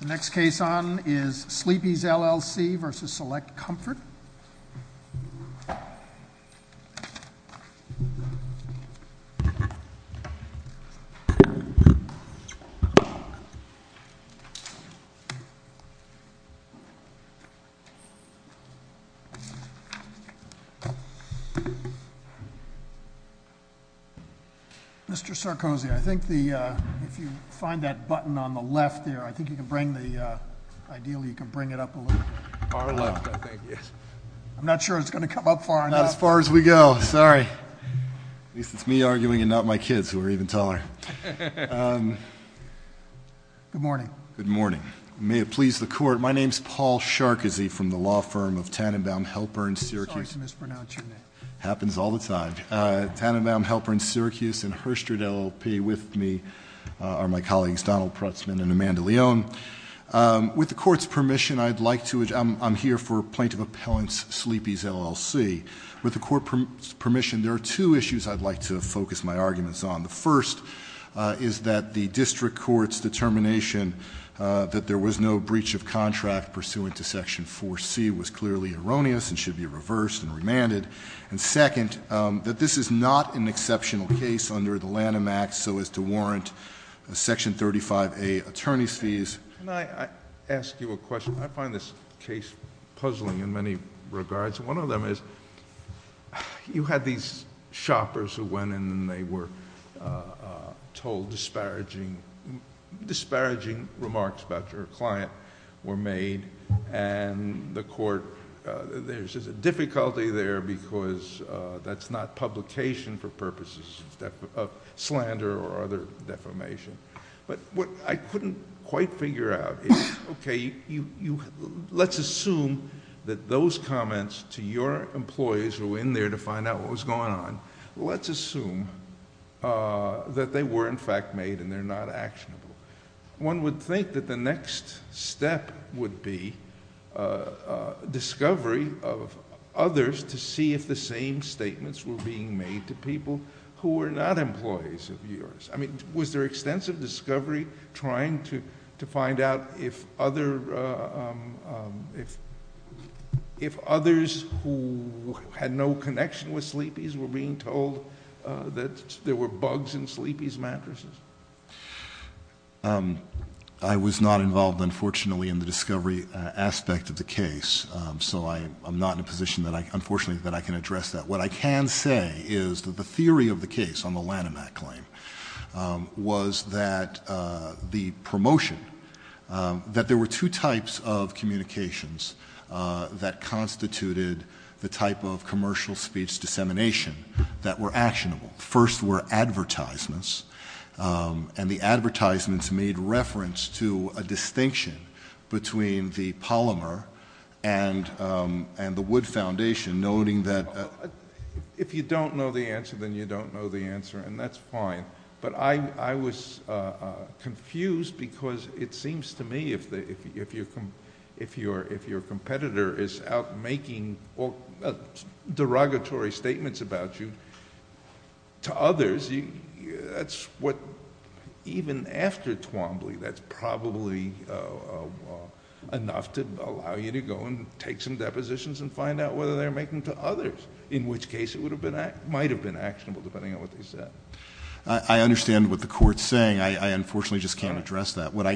The next case on is Sleepy's LLC v. Select Comfort. Mr. Sarkozy, I think if you find that button on the left there, I think you can bring the video up a little bit. I'm not sure it's going to come up far enough. Not as far as we go, sorry. At least it's me arguing and not my kids who are even taller. Good morning. Good morning. May it please the court, my name is Paul Sarkozy from the law firm of Tannenbaum Helper in Syracuse. Sorry to mispronounce your name. It happens all the time. Tannenbaum Helper in Syracuse and Herstred LLP with me are my colleagues Donald Prutzman and Amanda Leon. With the court's permission, I'm here for Plaintiff Appellant Sleepy's LLC. With the court's permission, there are two issues I'd like to focus my arguments on. The first is that the district court's determination that there was no breach of contract pursuant to section 4C was clearly erroneous and should be reversed and remanded. And second, that this is not an exceptional case under the Lanham Act so as to warrant section 35A attorney's fees. Can I ask you a question? I find this case puzzling in many regards. One of them is, you had these shoppers who went in and they were told disparaging remarks about your client were made and the court... there's a difficulty there because that's not publication for purposes of slander or other defamation. But what I couldn't quite figure out is, okay, let's assume that those comments to your employees who were in there to find out what was going on, let's assume that they were in fact made and they're not actionable. One would think that the next step would be discovery of others to see if the same statements were being made to people who were not employees of yours. Was there extensive discovery trying to find out if others who had no connection with Sleepy's were being told that there were bugs in Sleepy's mattresses? I was not involved, unfortunately, in the discovery aspect of the case so I'm not in a position that I can address that. What I can say is that the theory of the case on the Lanham Act claim was that the promotion... that there were two types of communications that constituted the type of commercial speech dissemination that were actionable. First were advertisements and the advertisements made reference to a distinction between the polymer and the Wood Foundation, noting that... If you don't know the answer, then you don't know the answer and that's fine. But I was confused because it seems to me if your competitor is out making derogatory statements about you to others, even after Twombly, that's probably enough to allow you to go and take some depositions and find out whether they're making them to others, in which case it might have been actionable, depending on what they said. I understand what the Court's saying. I unfortunately just can't address that. What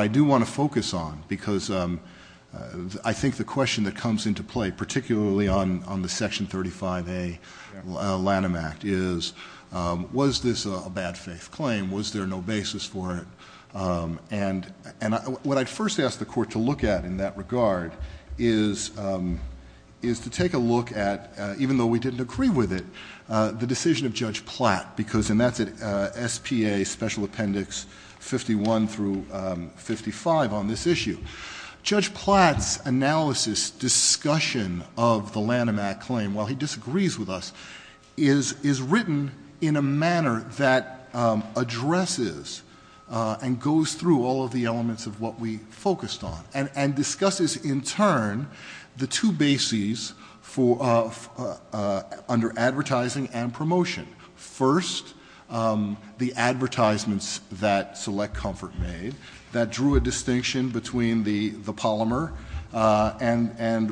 I do want to focus on, because I think the question that comes into play, particularly on the Section 35A Lanham Act, is was this a bad faith claim? Was there no basis for it? What I'd first ask the Court to look at in that regard is to take a look at, even though we didn't agree with it, the decision of Judge Platt, and that's at SPA Special Appendix 51 through 55 on this issue. Judge Platt's analysis discussion of the Lanham Act claim, while he disagrees with us, is written in a manner that addresses and goes through all of the elements of what we focused on and discusses, in turn, the two bases under advertising and promotion. First, the advertisements that Select Comfort made that drew a distinction between the polymer and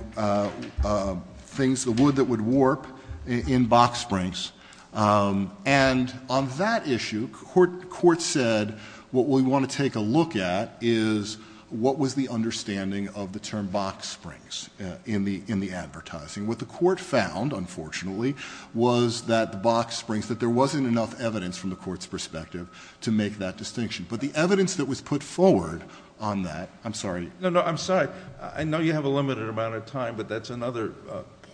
the wood that would warp in box springs. On that issue, the Court said what we want to take a look at is what was the understanding of the term box springs in the advertising. What the Court found, unfortunately, was that the box springs, that there wasn't enough evidence from the Court's perspective to make that distinction. But the evidence that was put forward on that, I'm sorry. No, no, I'm sorry. I know you have a limited amount of time, but that's another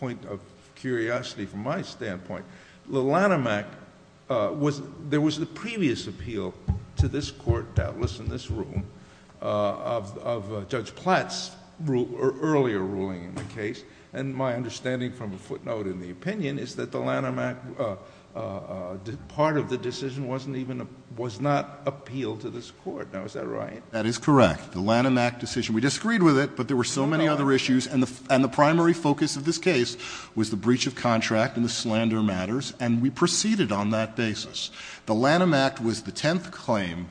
point of curiosity from my standpoint. The Lanham Act, there was the previous appeal to this Court, doubtless in this room, of Judge Platt's earlier ruling in the case, and my understanding from a footnote in the opinion is that the Lanham Act, part of the decision was not appealed to this Court. Now, is that right? That is correct. The Lanham Act decision, we disagreed with it, but there were so many other issues, and the primary focus of this case was the breach of contract and the slander matters, and we proceeded on that basis. The Lanham Act was the tenth claim,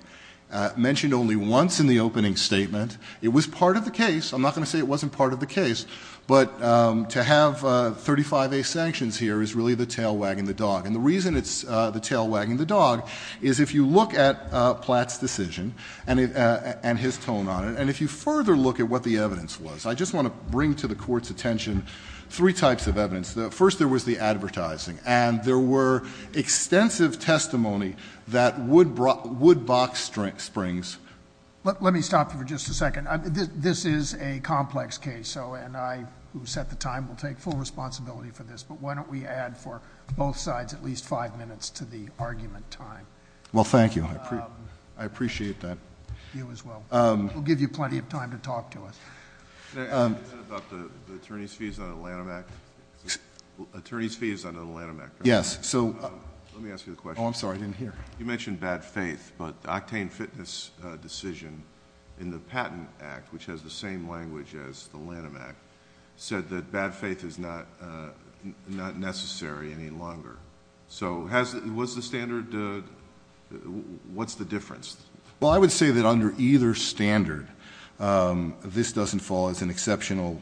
mentioned only once in the opening statement. It was part of the case. I'm not going to say it wasn't part of the case, but to have 35A sanctions here is really the tail wagging the dog, and the reason it's the tail wagging the dog is if you look at Platt's decision and his tone on it, and if you further look at what the evidence was, I just want to bring to the Court's attention three types of evidence. First, there was the advertising, and there were extensive testimony that would box springs. Let me stop you for just a second. This is a complex case, and I, who set the time, will take full responsibility for this, but why don't we add for both sides at least five minutes to the argument time? Well, thank you. I appreciate that. You as well. We'll give you plenty of time to talk to us. Can I ask a question about the attorney's fees on the Lanham Act? Attorney's fees on the Lanham Act? Yes. Let me ask you the question. Oh, I'm sorry. I didn't hear. You mentioned bad faith, but the Octane Fitness decision in the Patent Act, which has the same language as the Lanham Act, said that bad faith is not necessary any longer. So what's the standard? What's the difference? Well, I would say that under either standard, this doesn't fall as an exceptional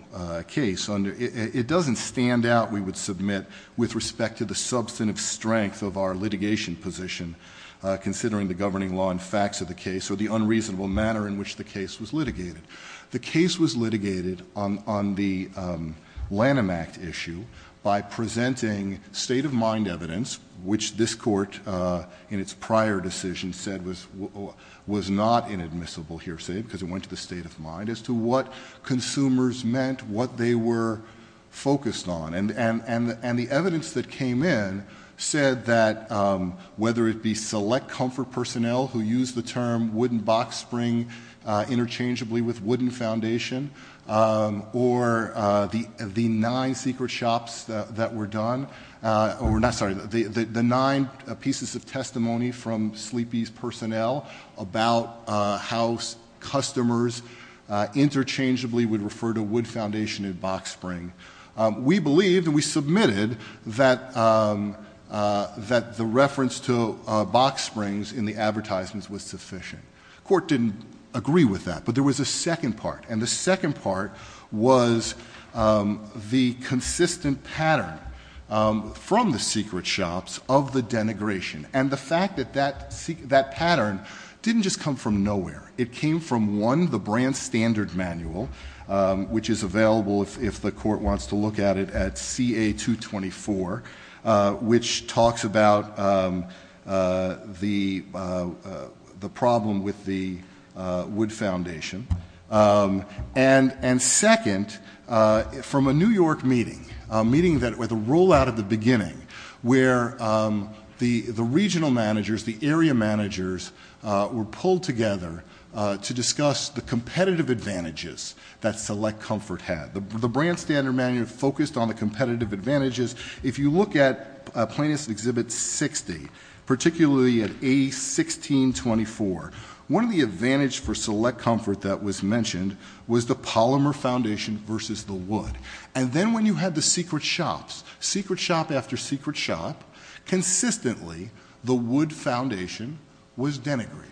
case. It doesn't stand out, we would submit, with respect to the substantive strength of our litigation position, considering the governing law and facts of the case or the unreasonable manner in which the case was litigated. The case was litigated on the Lanham Act issue by presenting state of mind evidence, which this Court, in its prior decision, said was not inadmissible, hearsay, because it went to the state of mind, as to what consumers meant, what they were whether it be select comfort personnel who used the term wooden box spring interchangeably with wooden foundation, or the nine pieces of testimony from sleepies personnel about how customers interchangeably would refer to wood foundation and box spring. We believed, and we submitted, that the reference to box springs in the advertisements was sufficient. Court didn't agree with that, but there was a second part, and the second part was the consistent pattern from the secret shops of the denigration, and the fact that that pattern didn't just come from nowhere. It came from, one, the brand standard manual, which is available if the Court wants to look at it at CA 224, which talks about the problem with the wood foundation, and second, from a New York meeting, a meeting with a rollout at the beginning, where the regional managers, the area managers, were pulled together to discuss the competitive advantages that select comfort had. The brand standard manual focused on the competitive advantages. If you look at Plaintiffs Exhibit 60, particularly at A1624, one of the advantages for select comfort that was mentioned was the polymer foundation versus the wood, and then when you had the secret shops, secret shop after secret shop, consistently the wood foundation was denigrated,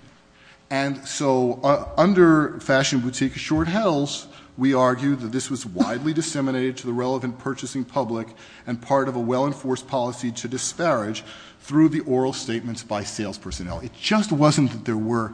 and so under Fashion Boutique Assured Health, we argue that this was widely disseminated to the relevant purchasing public and part of a well-enforced policy to disparage through the oral statements by sales personnel. It just wasn't that there were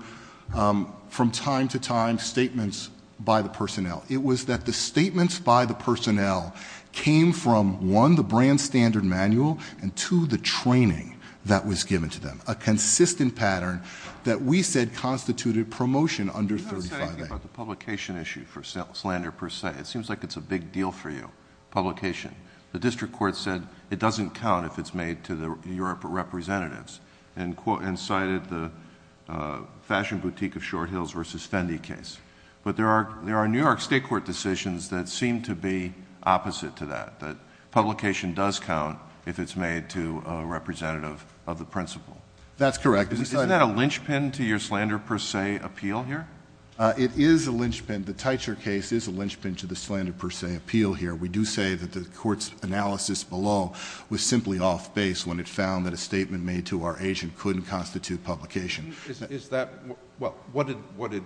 from time to time statements by the personnel. It was that the statements by the personnel came from, one, the brand standard manual, and two, the training that was given to them, a consistent pattern that we said constituted promotion under 35A. I was thinking about the publication issue for Slander Per Se. It seems like it's a big deal for you, publication. The district court said it doesn't count if it's made to the Europe representatives and cited the Fashion Boutique of Short Hills versus Fendi case, but there are New York state court decisions that seem to be opposite to that, that publication does count if it's made to a representative of the principal. That's correct. Isn't that a linchpin to your Slander Per Se appeal here? It is a linchpin. The Teicher case is a linchpin to the Slander Per Se appeal here. We do say that the court's analysis below was simply off-base when it found that a statement made to our agent couldn't constitute publication. Is that, well, what did,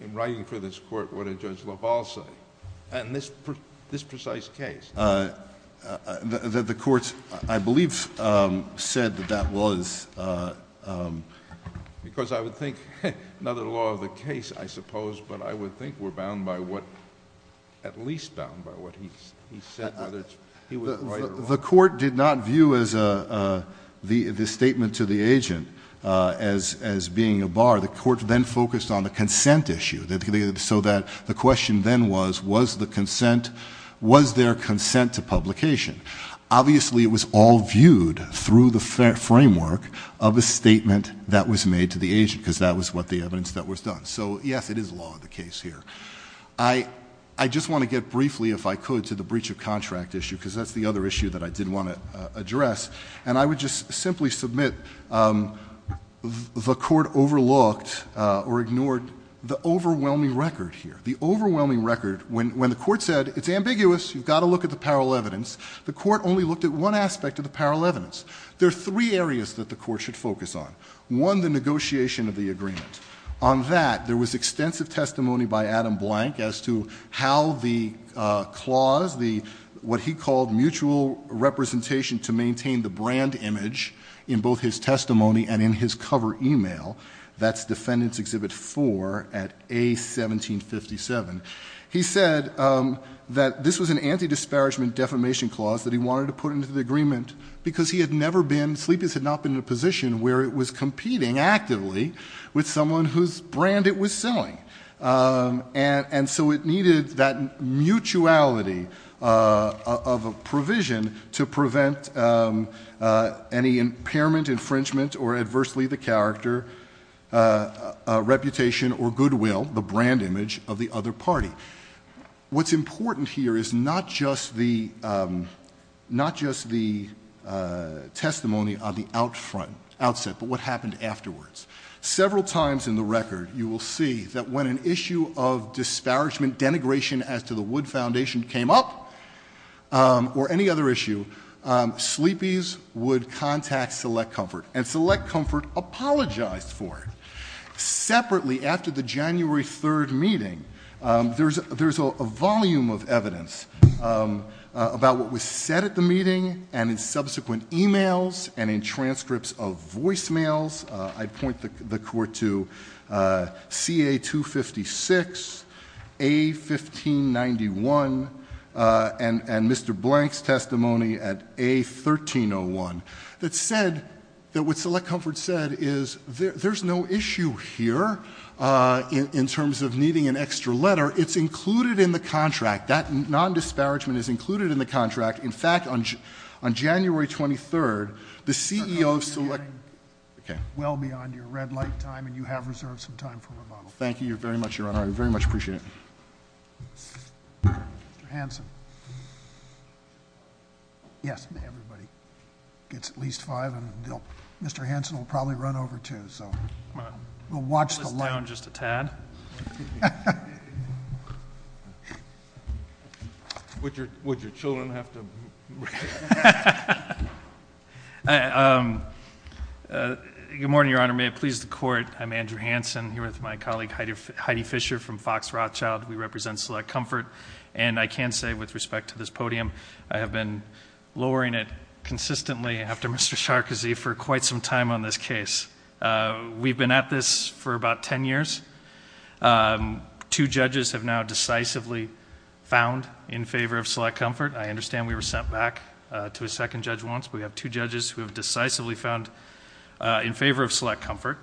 in writing for this court, what did Judge LaValle say in this precise case? The court, I believe, said that that was... Because I would think, not the law of the case, I suppose, but I would think we're bound by what, at least bound by what he said, whether he was right or wrong. The court did not view this statement to the agent as being a bar. The court then focused on the consent issue, so that the question then was, was the consent, was there consent to publication? Obviously, it was all viewed through the framework of a statement that was made to the agent, because that was what the evidence that was done. So, yes, it is law of the case here. I just want to get briefly, if I could, to the breach of contract issue, because that's the other issue that I did want to address. And I would just simply submit the court overlooked or ignored the overwhelming record here. The overwhelming record, when the court said, it's ambiguous, you've got to look at the parallel evidence, the court only looked at one aspect of the parallel evidence. There are three areas that the court should focus on. One, the negotiation of the agreement. On that, there was extensive testimony by Adam Blank as to how the clause, what he called mutual representation to maintain the brand image in both his testimony and in his cover email, that's Defendant's Exhibit 4 at A1757. He said that this was an anti-disparagement defamation clause that he wanted to put into the agreement, because he had never been, Sleepy's had not been in a position where it was competing actively with someone whose brand it was selling. And so it needed that mutuality of a provision to prevent any impairment, infringement, or adversely the character, reputation, or goodwill, the brand image of the other party. What's important here is not just the testimony on the outset, but what happened afterwards. Several times in the record, you will see that when an issue of disparagement denigration as to the Wood Foundation came up, or any other issue, Sleepy's would contact Select Comfort, and Select Comfort apologized for it. Separately, after the January 3rd meeting, there's a volume of evidence about what was said at the meeting, and in subsequent emails, and in transcripts of voicemails. I point the court to CA-256, A-1591, and Mr. Blank's testimony at A-1301. That said, that what Select Comfort said is, there's no issue here in terms of needing an extra letter. It's included in the contract. That non-disparagement is included in the contract. In fact, on January 23rd, the CEO of Select... I hope you're getting well beyond your red light time, and you have reserved some time for rebuttal. Thank you very much, Your Honor. I very much appreciate it. Mr. Hanson. Yes, everybody gets at least five, and Mr. Hanson will probably run over, too, so we'll watch the... I'll list down just a tad. Would your children have to... Good morning, Your Honor. May it please the Court, I'm Andrew Hanson, here with my colleague Heidi Fischer from Fox Rothschild. We represent Select Comfort, and I can say, with respect to this podium, I have been lowering it consistently after Mr. Sarkozy for quite some time on this case. We've been at this for about ten years. Two judges have now decisively found in favor of Select Comfort. I understand we were sent back to a second judge once, but we have two judges who have decisively found in favor of Select Comfort.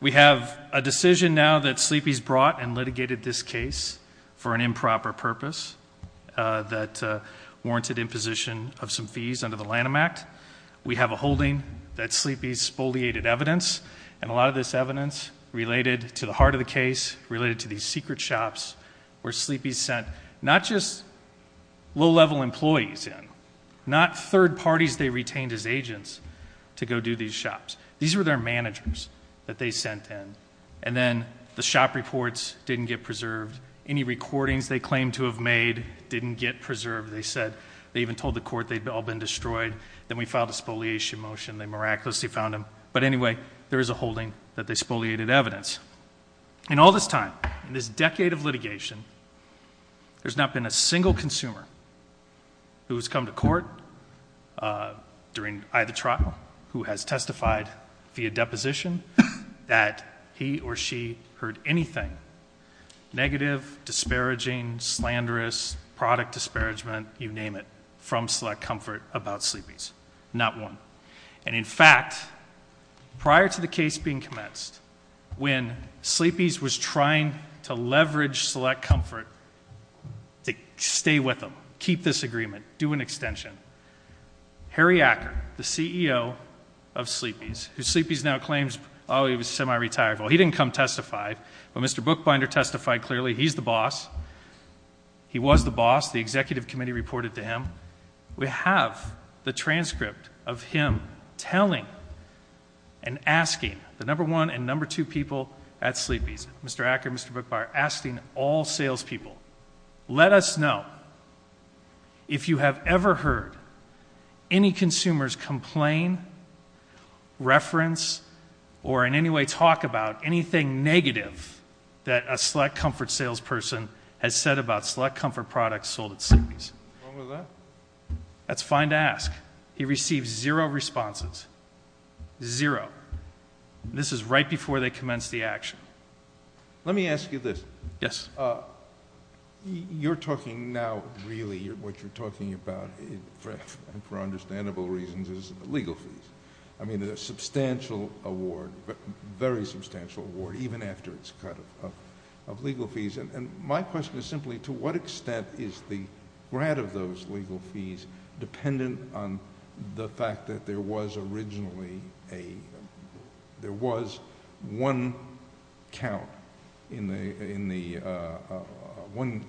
We have a decision now that Sleepy's brought and litigated this case for an improper purpose that warranted imposition of some fees under the Lanham Act. We have a holding that Sleepy's spoliated evidence, and a lot of this evidence related to the heart of the case, related to these secret shops where Sleepy's sent not just low-level employees in, not third parties they retained as agents to go do these shops. These were their managers that they sent in, and then the shop reports didn't get preserved. Any recordings they claimed to have made didn't get preserved. They said they even told the court they'd all been destroyed. Then we filed a spoliation motion. They miraculously found them. But anyway, there is a holding that they spoliated evidence. In all this time, in this decade of litigation, there's not been a single consumer who's come to court during either trial who has testified via deposition that he or she heard anything negative, disparaging, slanderous, product disparagement, you name it, from Select Comfort about Sleepy's. Not one. And in fact, prior to the case being commenced, when Sleepy's was trying to leverage Select Comfort to stay with them, keep this agreement, do an extension, Harry Acker, the CEO of Sleepy's, who Sleepy's now claims, oh, he was semi-retired. Well, he didn't come testify. But Mr. Bookbinder testified clearly. He's the boss. He was the boss. The executive committee reported to him. We have the transcript of him telling and asking the number one and number two people at Sleepy's, Mr. Acker, Mr. Bookbinder, asking all salespeople, let us know if you have ever heard any consumers complain, reference, or in any way talk about anything negative that a Select Comfort salesperson has said about Select Comfort products sold at Sleepy's. What's wrong with that? That's fine to ask. He received zero responses. Zero. This is right before they commenced the action. Let me ask you this. Yes. You're talking now, really, what you're talking about, and for understandable reasons, is legal fees. I mean, a substantial award, very substantial award, even after its cut of legal fees. And my question is simply, to what extent is the grant of those legal fees dependent on the fact that there was originally, there was one count in the one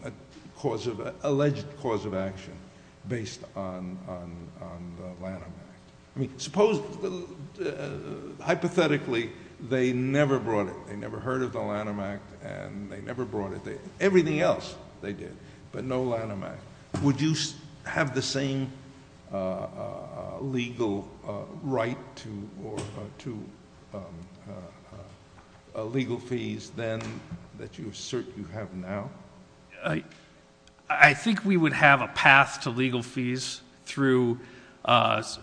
alleged cause of action based on the Lanham Act? I mean, hypothetically, they never brought it. They never heard of the Lanham Act, and they never brought it. Everything else they did, but no Lanham Act. Would you have the same legal right to legal fees then that you assert you have now? I think we would have a path to legal fees through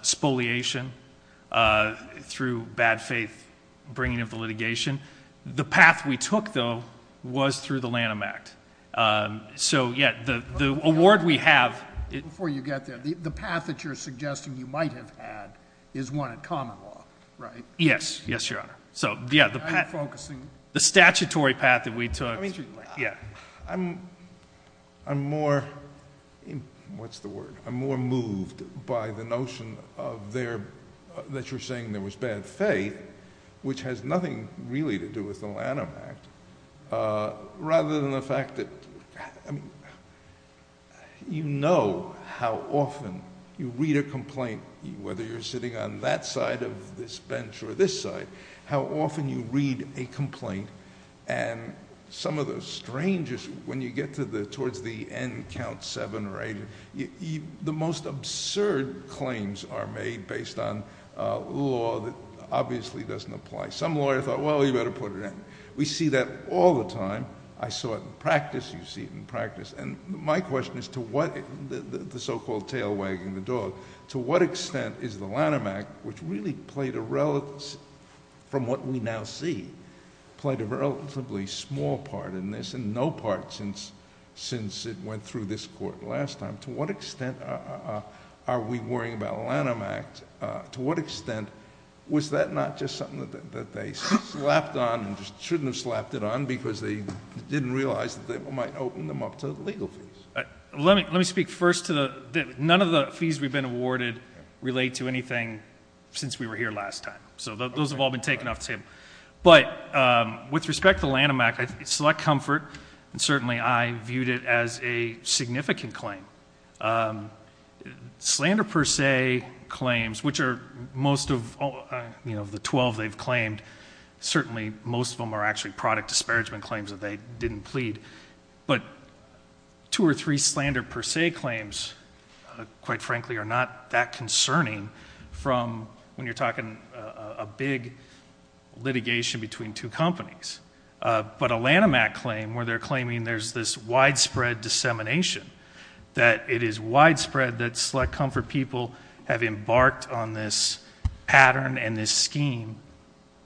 spoliation, through bad faith bringing of the litigation. The path we took, though, was through the Lanham Act. So, yeah, the award we have- Before you get there, the path that you're suggesting you might have had is one in common law, right? Yes. Yes, Your Honor. So, yeah, the statutory path that we took- I mean, I'm more, what's the word? I'm more moved by the notion that you're saying there was bad faith, which has nothing really to do with the Lanham Act, rather than the fact that, I mean, you know how often you read a complaint, whether you're sitting on that side of this bench or this side, how often you read a complaint, and some of the strangest, when you get towards the end count seven or eight, the most absurd claims are made based on law that obviously doesn't apply. Some lawyer thought, well, you better put it in. We see that all the time. I saw it in practice. You see it in practice. And my question is to what- the so-called tail wagging the dog. To what extent is the Lanham Act, which really played a relative- from what we now see, played a relatively small part in this and no part since it went through this court last time. To what extent are we worrying about Lanham Act? To what extent was that not just something that they slapped on and shouldn't have slapped it on because they didn't realize that they might open them up to legal fees? Let me speak first to the- none of the fees we've been awarded relate to anything since we were here last time. So those have all been taken off the table. But with respect to Lanham Act, I select comfort, and certainly I viewed it as a significant claim. Slander per se claims, which are most of the 12 they've claimed, certainly most of them are actually product disparagement claims that they didn't plead. But two or three slander per se claims, quite frankly, are not that concerning from when you're talking a big litigation between two companies. But a Lanham Act claim where they're claiming there's this widespread dissemination that it is widespread that select comfort people have embarked on this pattern and this scheme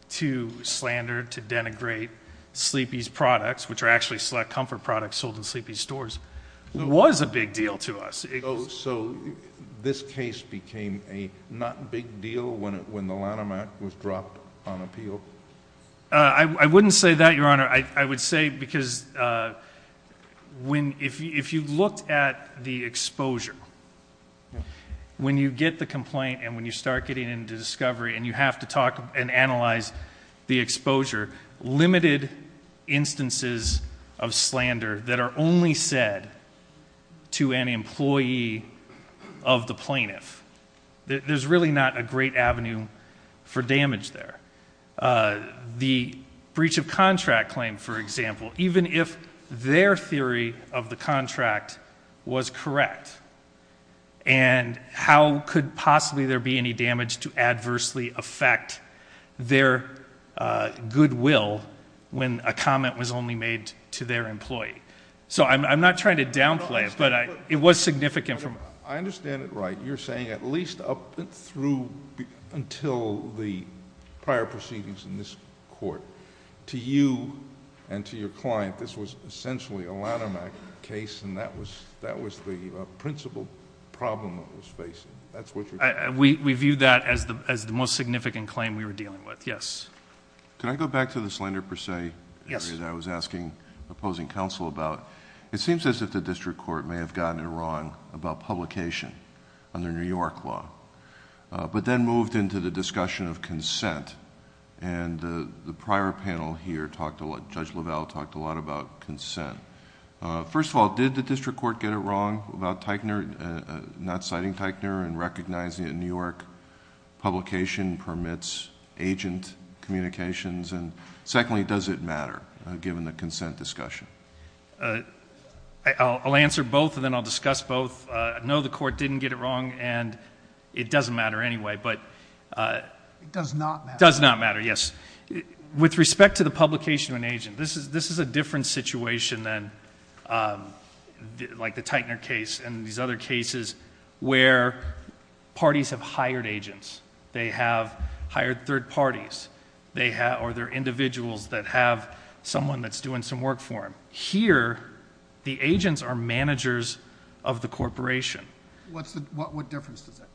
to slander, to denigrate Sleepy's products, which are actually select comfort products sold in Sleepy's stores, was a big deal to us. So this case became a not big deal when the Lanham Act was dropped on appeal? I wouldn't say that, Your Honor. I would say because if you looked at the exposure, when you get the complaint and when you start getting into discovery and you have to talk and analyze the exposure, limited instances of slander that are only said to an employee of the plaintiff. There's really not a great avenue for damage there. The breach of contract claim, for example, even if their theory of the contract was correct, and how could possibly there be any damage to adversely affect their goodwill when a comment was only made to their employee? So I'm not trying to downplay it, but it was significant. I understand it right. You're saying at least up through until the prior proceedings in this court. To you and to your client, this was essentially a Lanham Act case and that was the principal problem it was facing. That's what you're... We view that as the most significant claim we were dealing with. Yes. Can I go back to the slander per se? Yes. I was asking opposing counsel about. It seems as if the district court may have gotten it wrong about publication under New York law, but then moved into the discussion of consent. The prior panel here, Judge LaValle talked a lot about consent. First of all, did the district court get it wrong about not citing Teichner and recognizing that New York publication permits agent communications? Secondly, does it matter given the consent discussion? I'll answer both and then I'll discuss both. No, the court didn't get it wrong and it doesn't matter anyway, but... It does not matter. Does not matter, yes. With respect to the publication of an agent, this is a different situation than like the Teichner case and these other cases where parties have hired agents. They have hired third parties or they're individuals that have someone that's doing some work for them. Here, the agents are managers of the corporation. What difference does that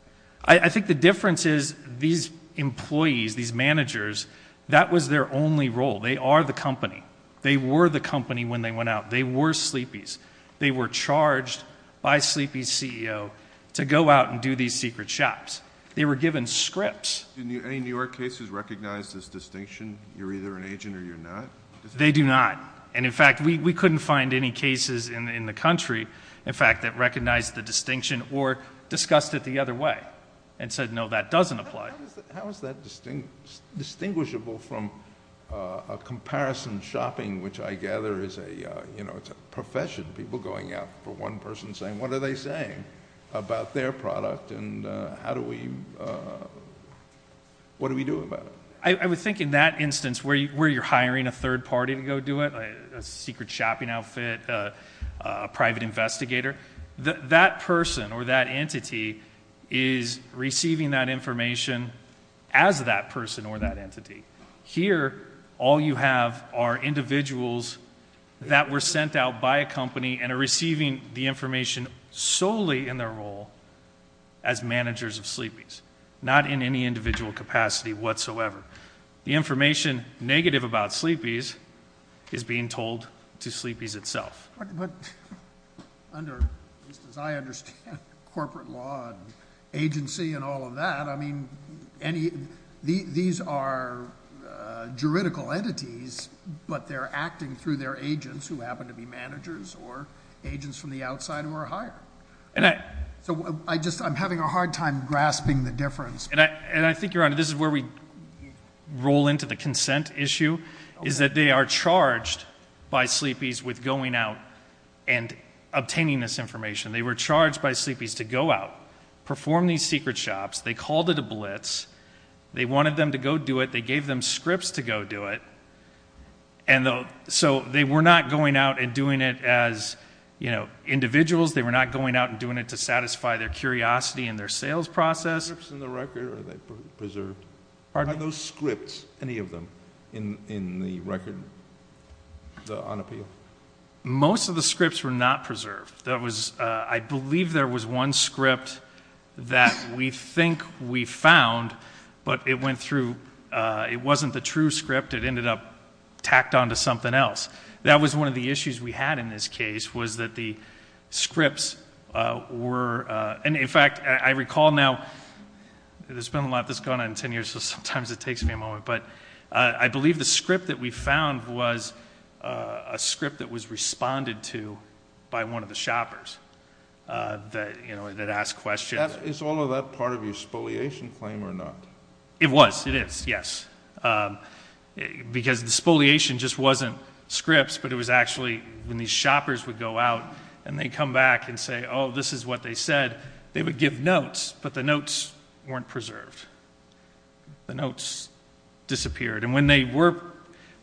make? I think the difference is these employees, these managers, that was their only role. They are the company. They were the company when they went out. They were sleepies. They were charged by a sleepie CEO to go out and do these secret shops. They were given scripts. Any New York cases recognize this distinction? You're either an agent or you're not? They do not. In fact, we couldn't find any cases in the country, in fact, that recognized the distinction or discussed it the other way and said, no, that doesn't apply. How is that distinguishable from a comparison shopping, which I gather is a profession, people going out for one person saying, what are they saying about their product and what do we do about it? I would think in that instance where you're hiring a third party to go do it, a secret shopping outfit, a private investigator, that person or that entity is receiving that information as that person or that entity. Here, all you have are individuals that were sent out by a company and are receiving the information solely in their role as managers of sleepies, not in any individual capacity whatsoever. The information negative about sleepies is being told to sleepies itself. But under, at least as I understand corporate law and agency and all of that, I mean, these are juridical entities, but they're acting through their agents who happen to be managers or agents from the outside who are hired. So I'm having a hard time grasping the difference. And I think, Your Honor, this is where we roll into the consent issue, is that they are charged by sleepies with going out and obtaining this information. They were charged by sleepies to go out, perform these secret shops. They called it a blitz. They wanted them to go do it. They gave them scripts to go do it. And so they were not going out and doing it as, you know, individuals. They were not going out and doing it to satisfy their curiosity and their sales process. The scripts in the record, are they preserved? Pardon me? Are those scripts, any of them, in the record, the unappealed? Most of the scripts were not preserved. There was, I believe there was one script that we think we found, but it went through, it wasn't the true script. It ended up tacked onto something else. That was one of the issues we had in this case, was that the scripts were, and in fact, I recall now, there's been a lot that's gone on in 10 years, so sometimes it takes me a moment, but I believe the script that we found was a script that was responded to by one of the shoppers that, you know, that asked questions. Is all of that part of your spoliation claim or not? It was, it is, yes. Because the spoliation just wasn't scripts, but it was actually when these shoppers would go out and they'd come back and say, oh, this is what they said, they would give notes, but the notes weren't preserved. The notes disappeared. And when they were,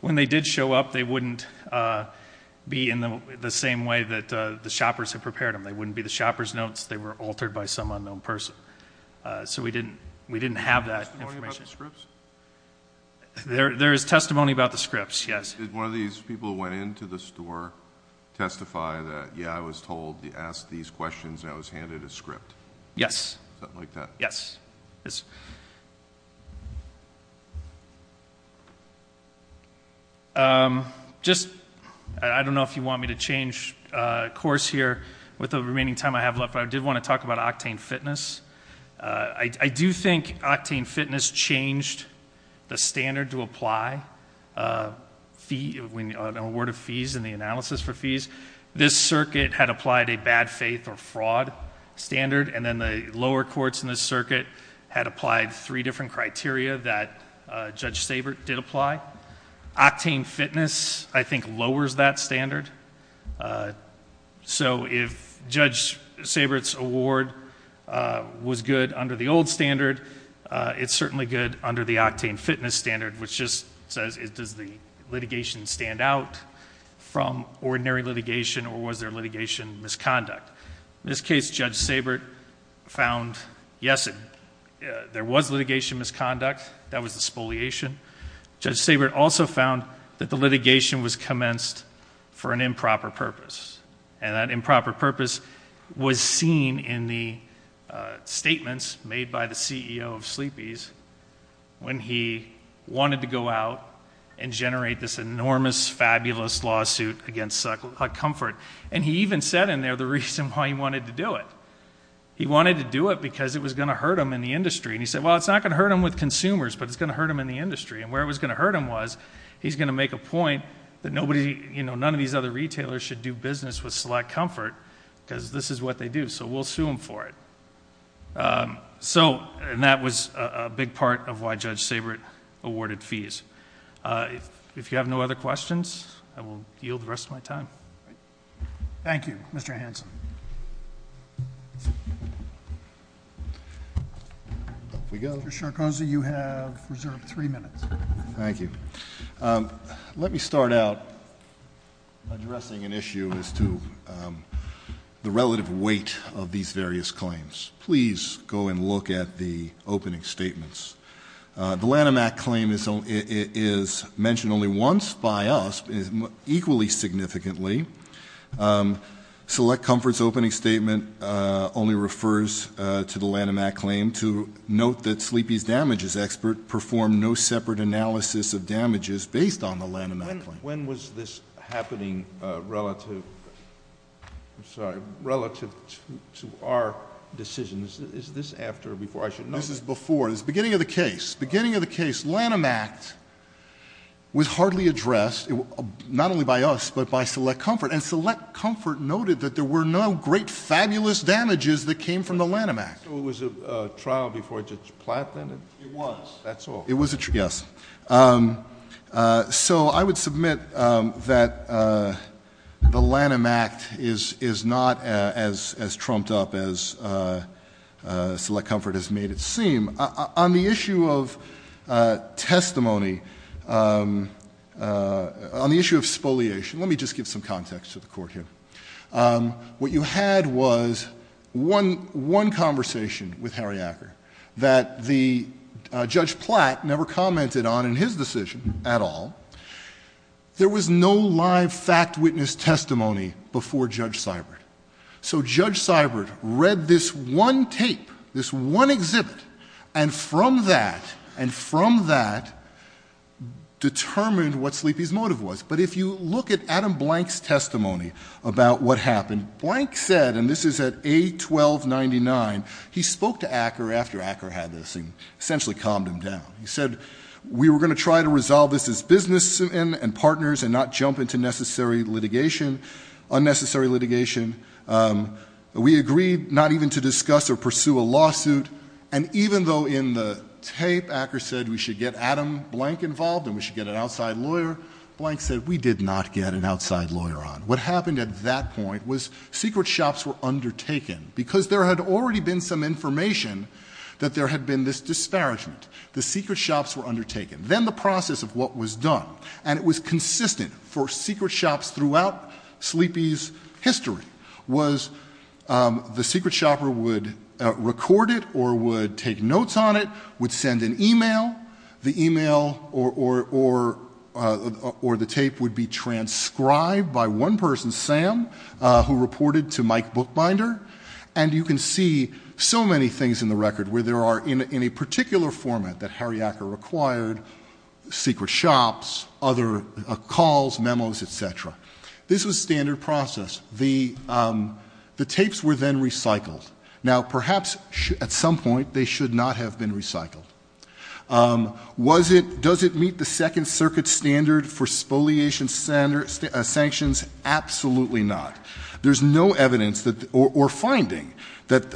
when they did show up, they wouldn't be in the same way that the shoppers had prepared them. They wouldn't be the shopper's notes. They were altered by some unknown person. So we didn't, we didn't have that information. Testimony about the scripts? There is testimony about the scripts, yes. Did one of these people who went into the store testify that, yeah, I was told to ask these questions and I was handed a script? Yes. Something like that? Yes. Just, I don't know if you want me to change course here with the remaining time I have left, but I did want to talk about Octane Fitness. I do think Octane Fitness changed the standard to apply fee, when an award of fees and the analysis for fees. This circuit had applied a bad faith or fraud standard, and then the lower courts in the circuit had applied three different criteria that Judge Sabert did apply. Octane Fitness, I think, lowers that standard. So if Judge Sabert's award was good under the old standard, it's certainly good under the Octane Fitness standard, which just says, does the litigation stand out from ordinary litigation, or was there litigation misconduct? In this case, Judge Sabert found, yes, there was litigation misconduct. That was the spoliation. Judge Sabert also found that the litigation was commenced for an improper purpose. And that improper purpose was seen in the statements made by the CEO of Sleepy's, when he wanted to go out and generate this enormous, fabulous lawsuit against Suck Comfort. And he even said in there the reason why he wanted to do it. He wanted to do it because it was going to hurt him in the industry. And he said, well, it's not going to hurt him with consumers, but it's going to hurt him in the industry. And where it was going to hurt him was, he's going to make a point that none of these other retailers should do business with Select Comfort, because this is what they do. So we'll sue him for it. And that was a big part of why Judge Sabert awarded fees. If you have no other questions, I will yield the rest of my time. Thank you, Mr. Hanson. Off we go. Mr. Sarkozy, you have reserved three minutes. Thank you. Let me start out addressing an issue as to the relative weight of these various claims. Please go and look at the opening statements. The Lanham Act claim is mentioned only once by us, equally significantly. Select Comfort's opening statement only refers to the Lanham Act claim. To note that Sleepy's Damages Expert performed no separate analysis of damages based on the Lanham Act claim. When was this happening relative to our decisions? Is this after or before? This is before. This is the beginning of the case. Beginning of the case. Lanham Act was hardly addressed, not only by us, but by Select Comfort. And Select Comfort noted that there were no great, fabulous damages that came from the Lanham Act. So it was a trial before Judge Platt, then? It was. That's all. It was a trial. Yes. So I would submit that the Lanham Act is not as trumped up as Select Comfort has made it seem. On the issue of testimony, on the issue of spoliation, let me just give some context to the conversation with Harry Acker that Judge Platt never commented on in his decision at all. There was no live fact witness testimony before Judge Sybert. So Judge Sybert read this one tape, this one exhibit, and from that, and from that, determined what Sleepy's motive was. But if you look at Adam Blank's testimony about what happened, Blank said, and this is at A1299, he spoke to Acker after Acker had this and essentially calmed him down. He said, we were going to try to resolve this as business and partners and not jump into unnecessary litigation. We agreed not even to discuss or pursue a lawsuit. And even though in the tape Acker said we should get Adam Blank involved and we should get an outside lawyer, Blank said, we did not get an outside lawyer on. What happened at that point was secret shops were undertaken, because there had already been some information that there had been this disparagement. The secret shops were undertaken. Then the process of what was done, and it was consistent for secret shops throughout Sleepy's history, was the secret shopper would record it or would take notes on it, would send an email. The email or the tape would be transcribed by one person, Sam, who reported to Mike Bookbinder. And you can see so many things in the record where there are, in a particular format that Harry Acker required, secret shops, other calls, memos, et cetera. This was standard process. The tapes were then recycled. Now, perhaps at some point they should not have been recycled. Was it, does it meet the Second Circuit standard for spoliation sanctions? Absolutely not. There's no evidence or finding that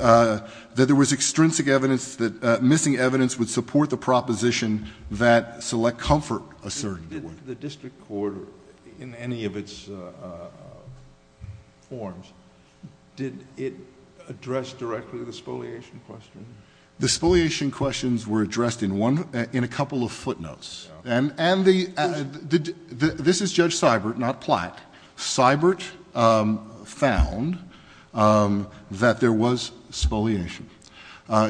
there was extrinsic evidence, that missing evidence would support the proposition that select comfort asserted. Did the district court in any of its forms, did it address directly the spoliation question? The spoliation questions were addressed in one, in a couple of footnotes. And the, this is Judge Seibert, not Platt. Seibert found that there was spoliation.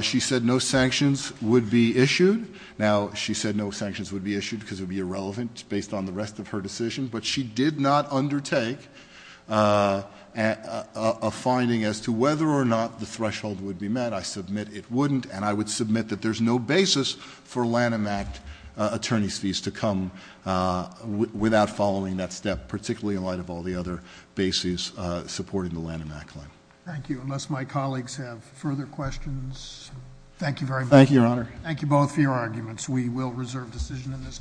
She said no sanctions would be issued. Now, she said no sanctions would be issued because it would be irrelevant based on the rest of her decision. But she did not undertake a finding as to whether or not the threshold would be met. I submit it wouldn't. And I would submit that there's no basis for Lanham Act attorney's fees to come without following that step, particularly in light of all the other bases supporting the Lanham Act claim. Thank you. Unless my colleagues have further questions. Thank you very much. Thank you, Your Honor. Thank you both for your arguments. We will reserve decision in this case.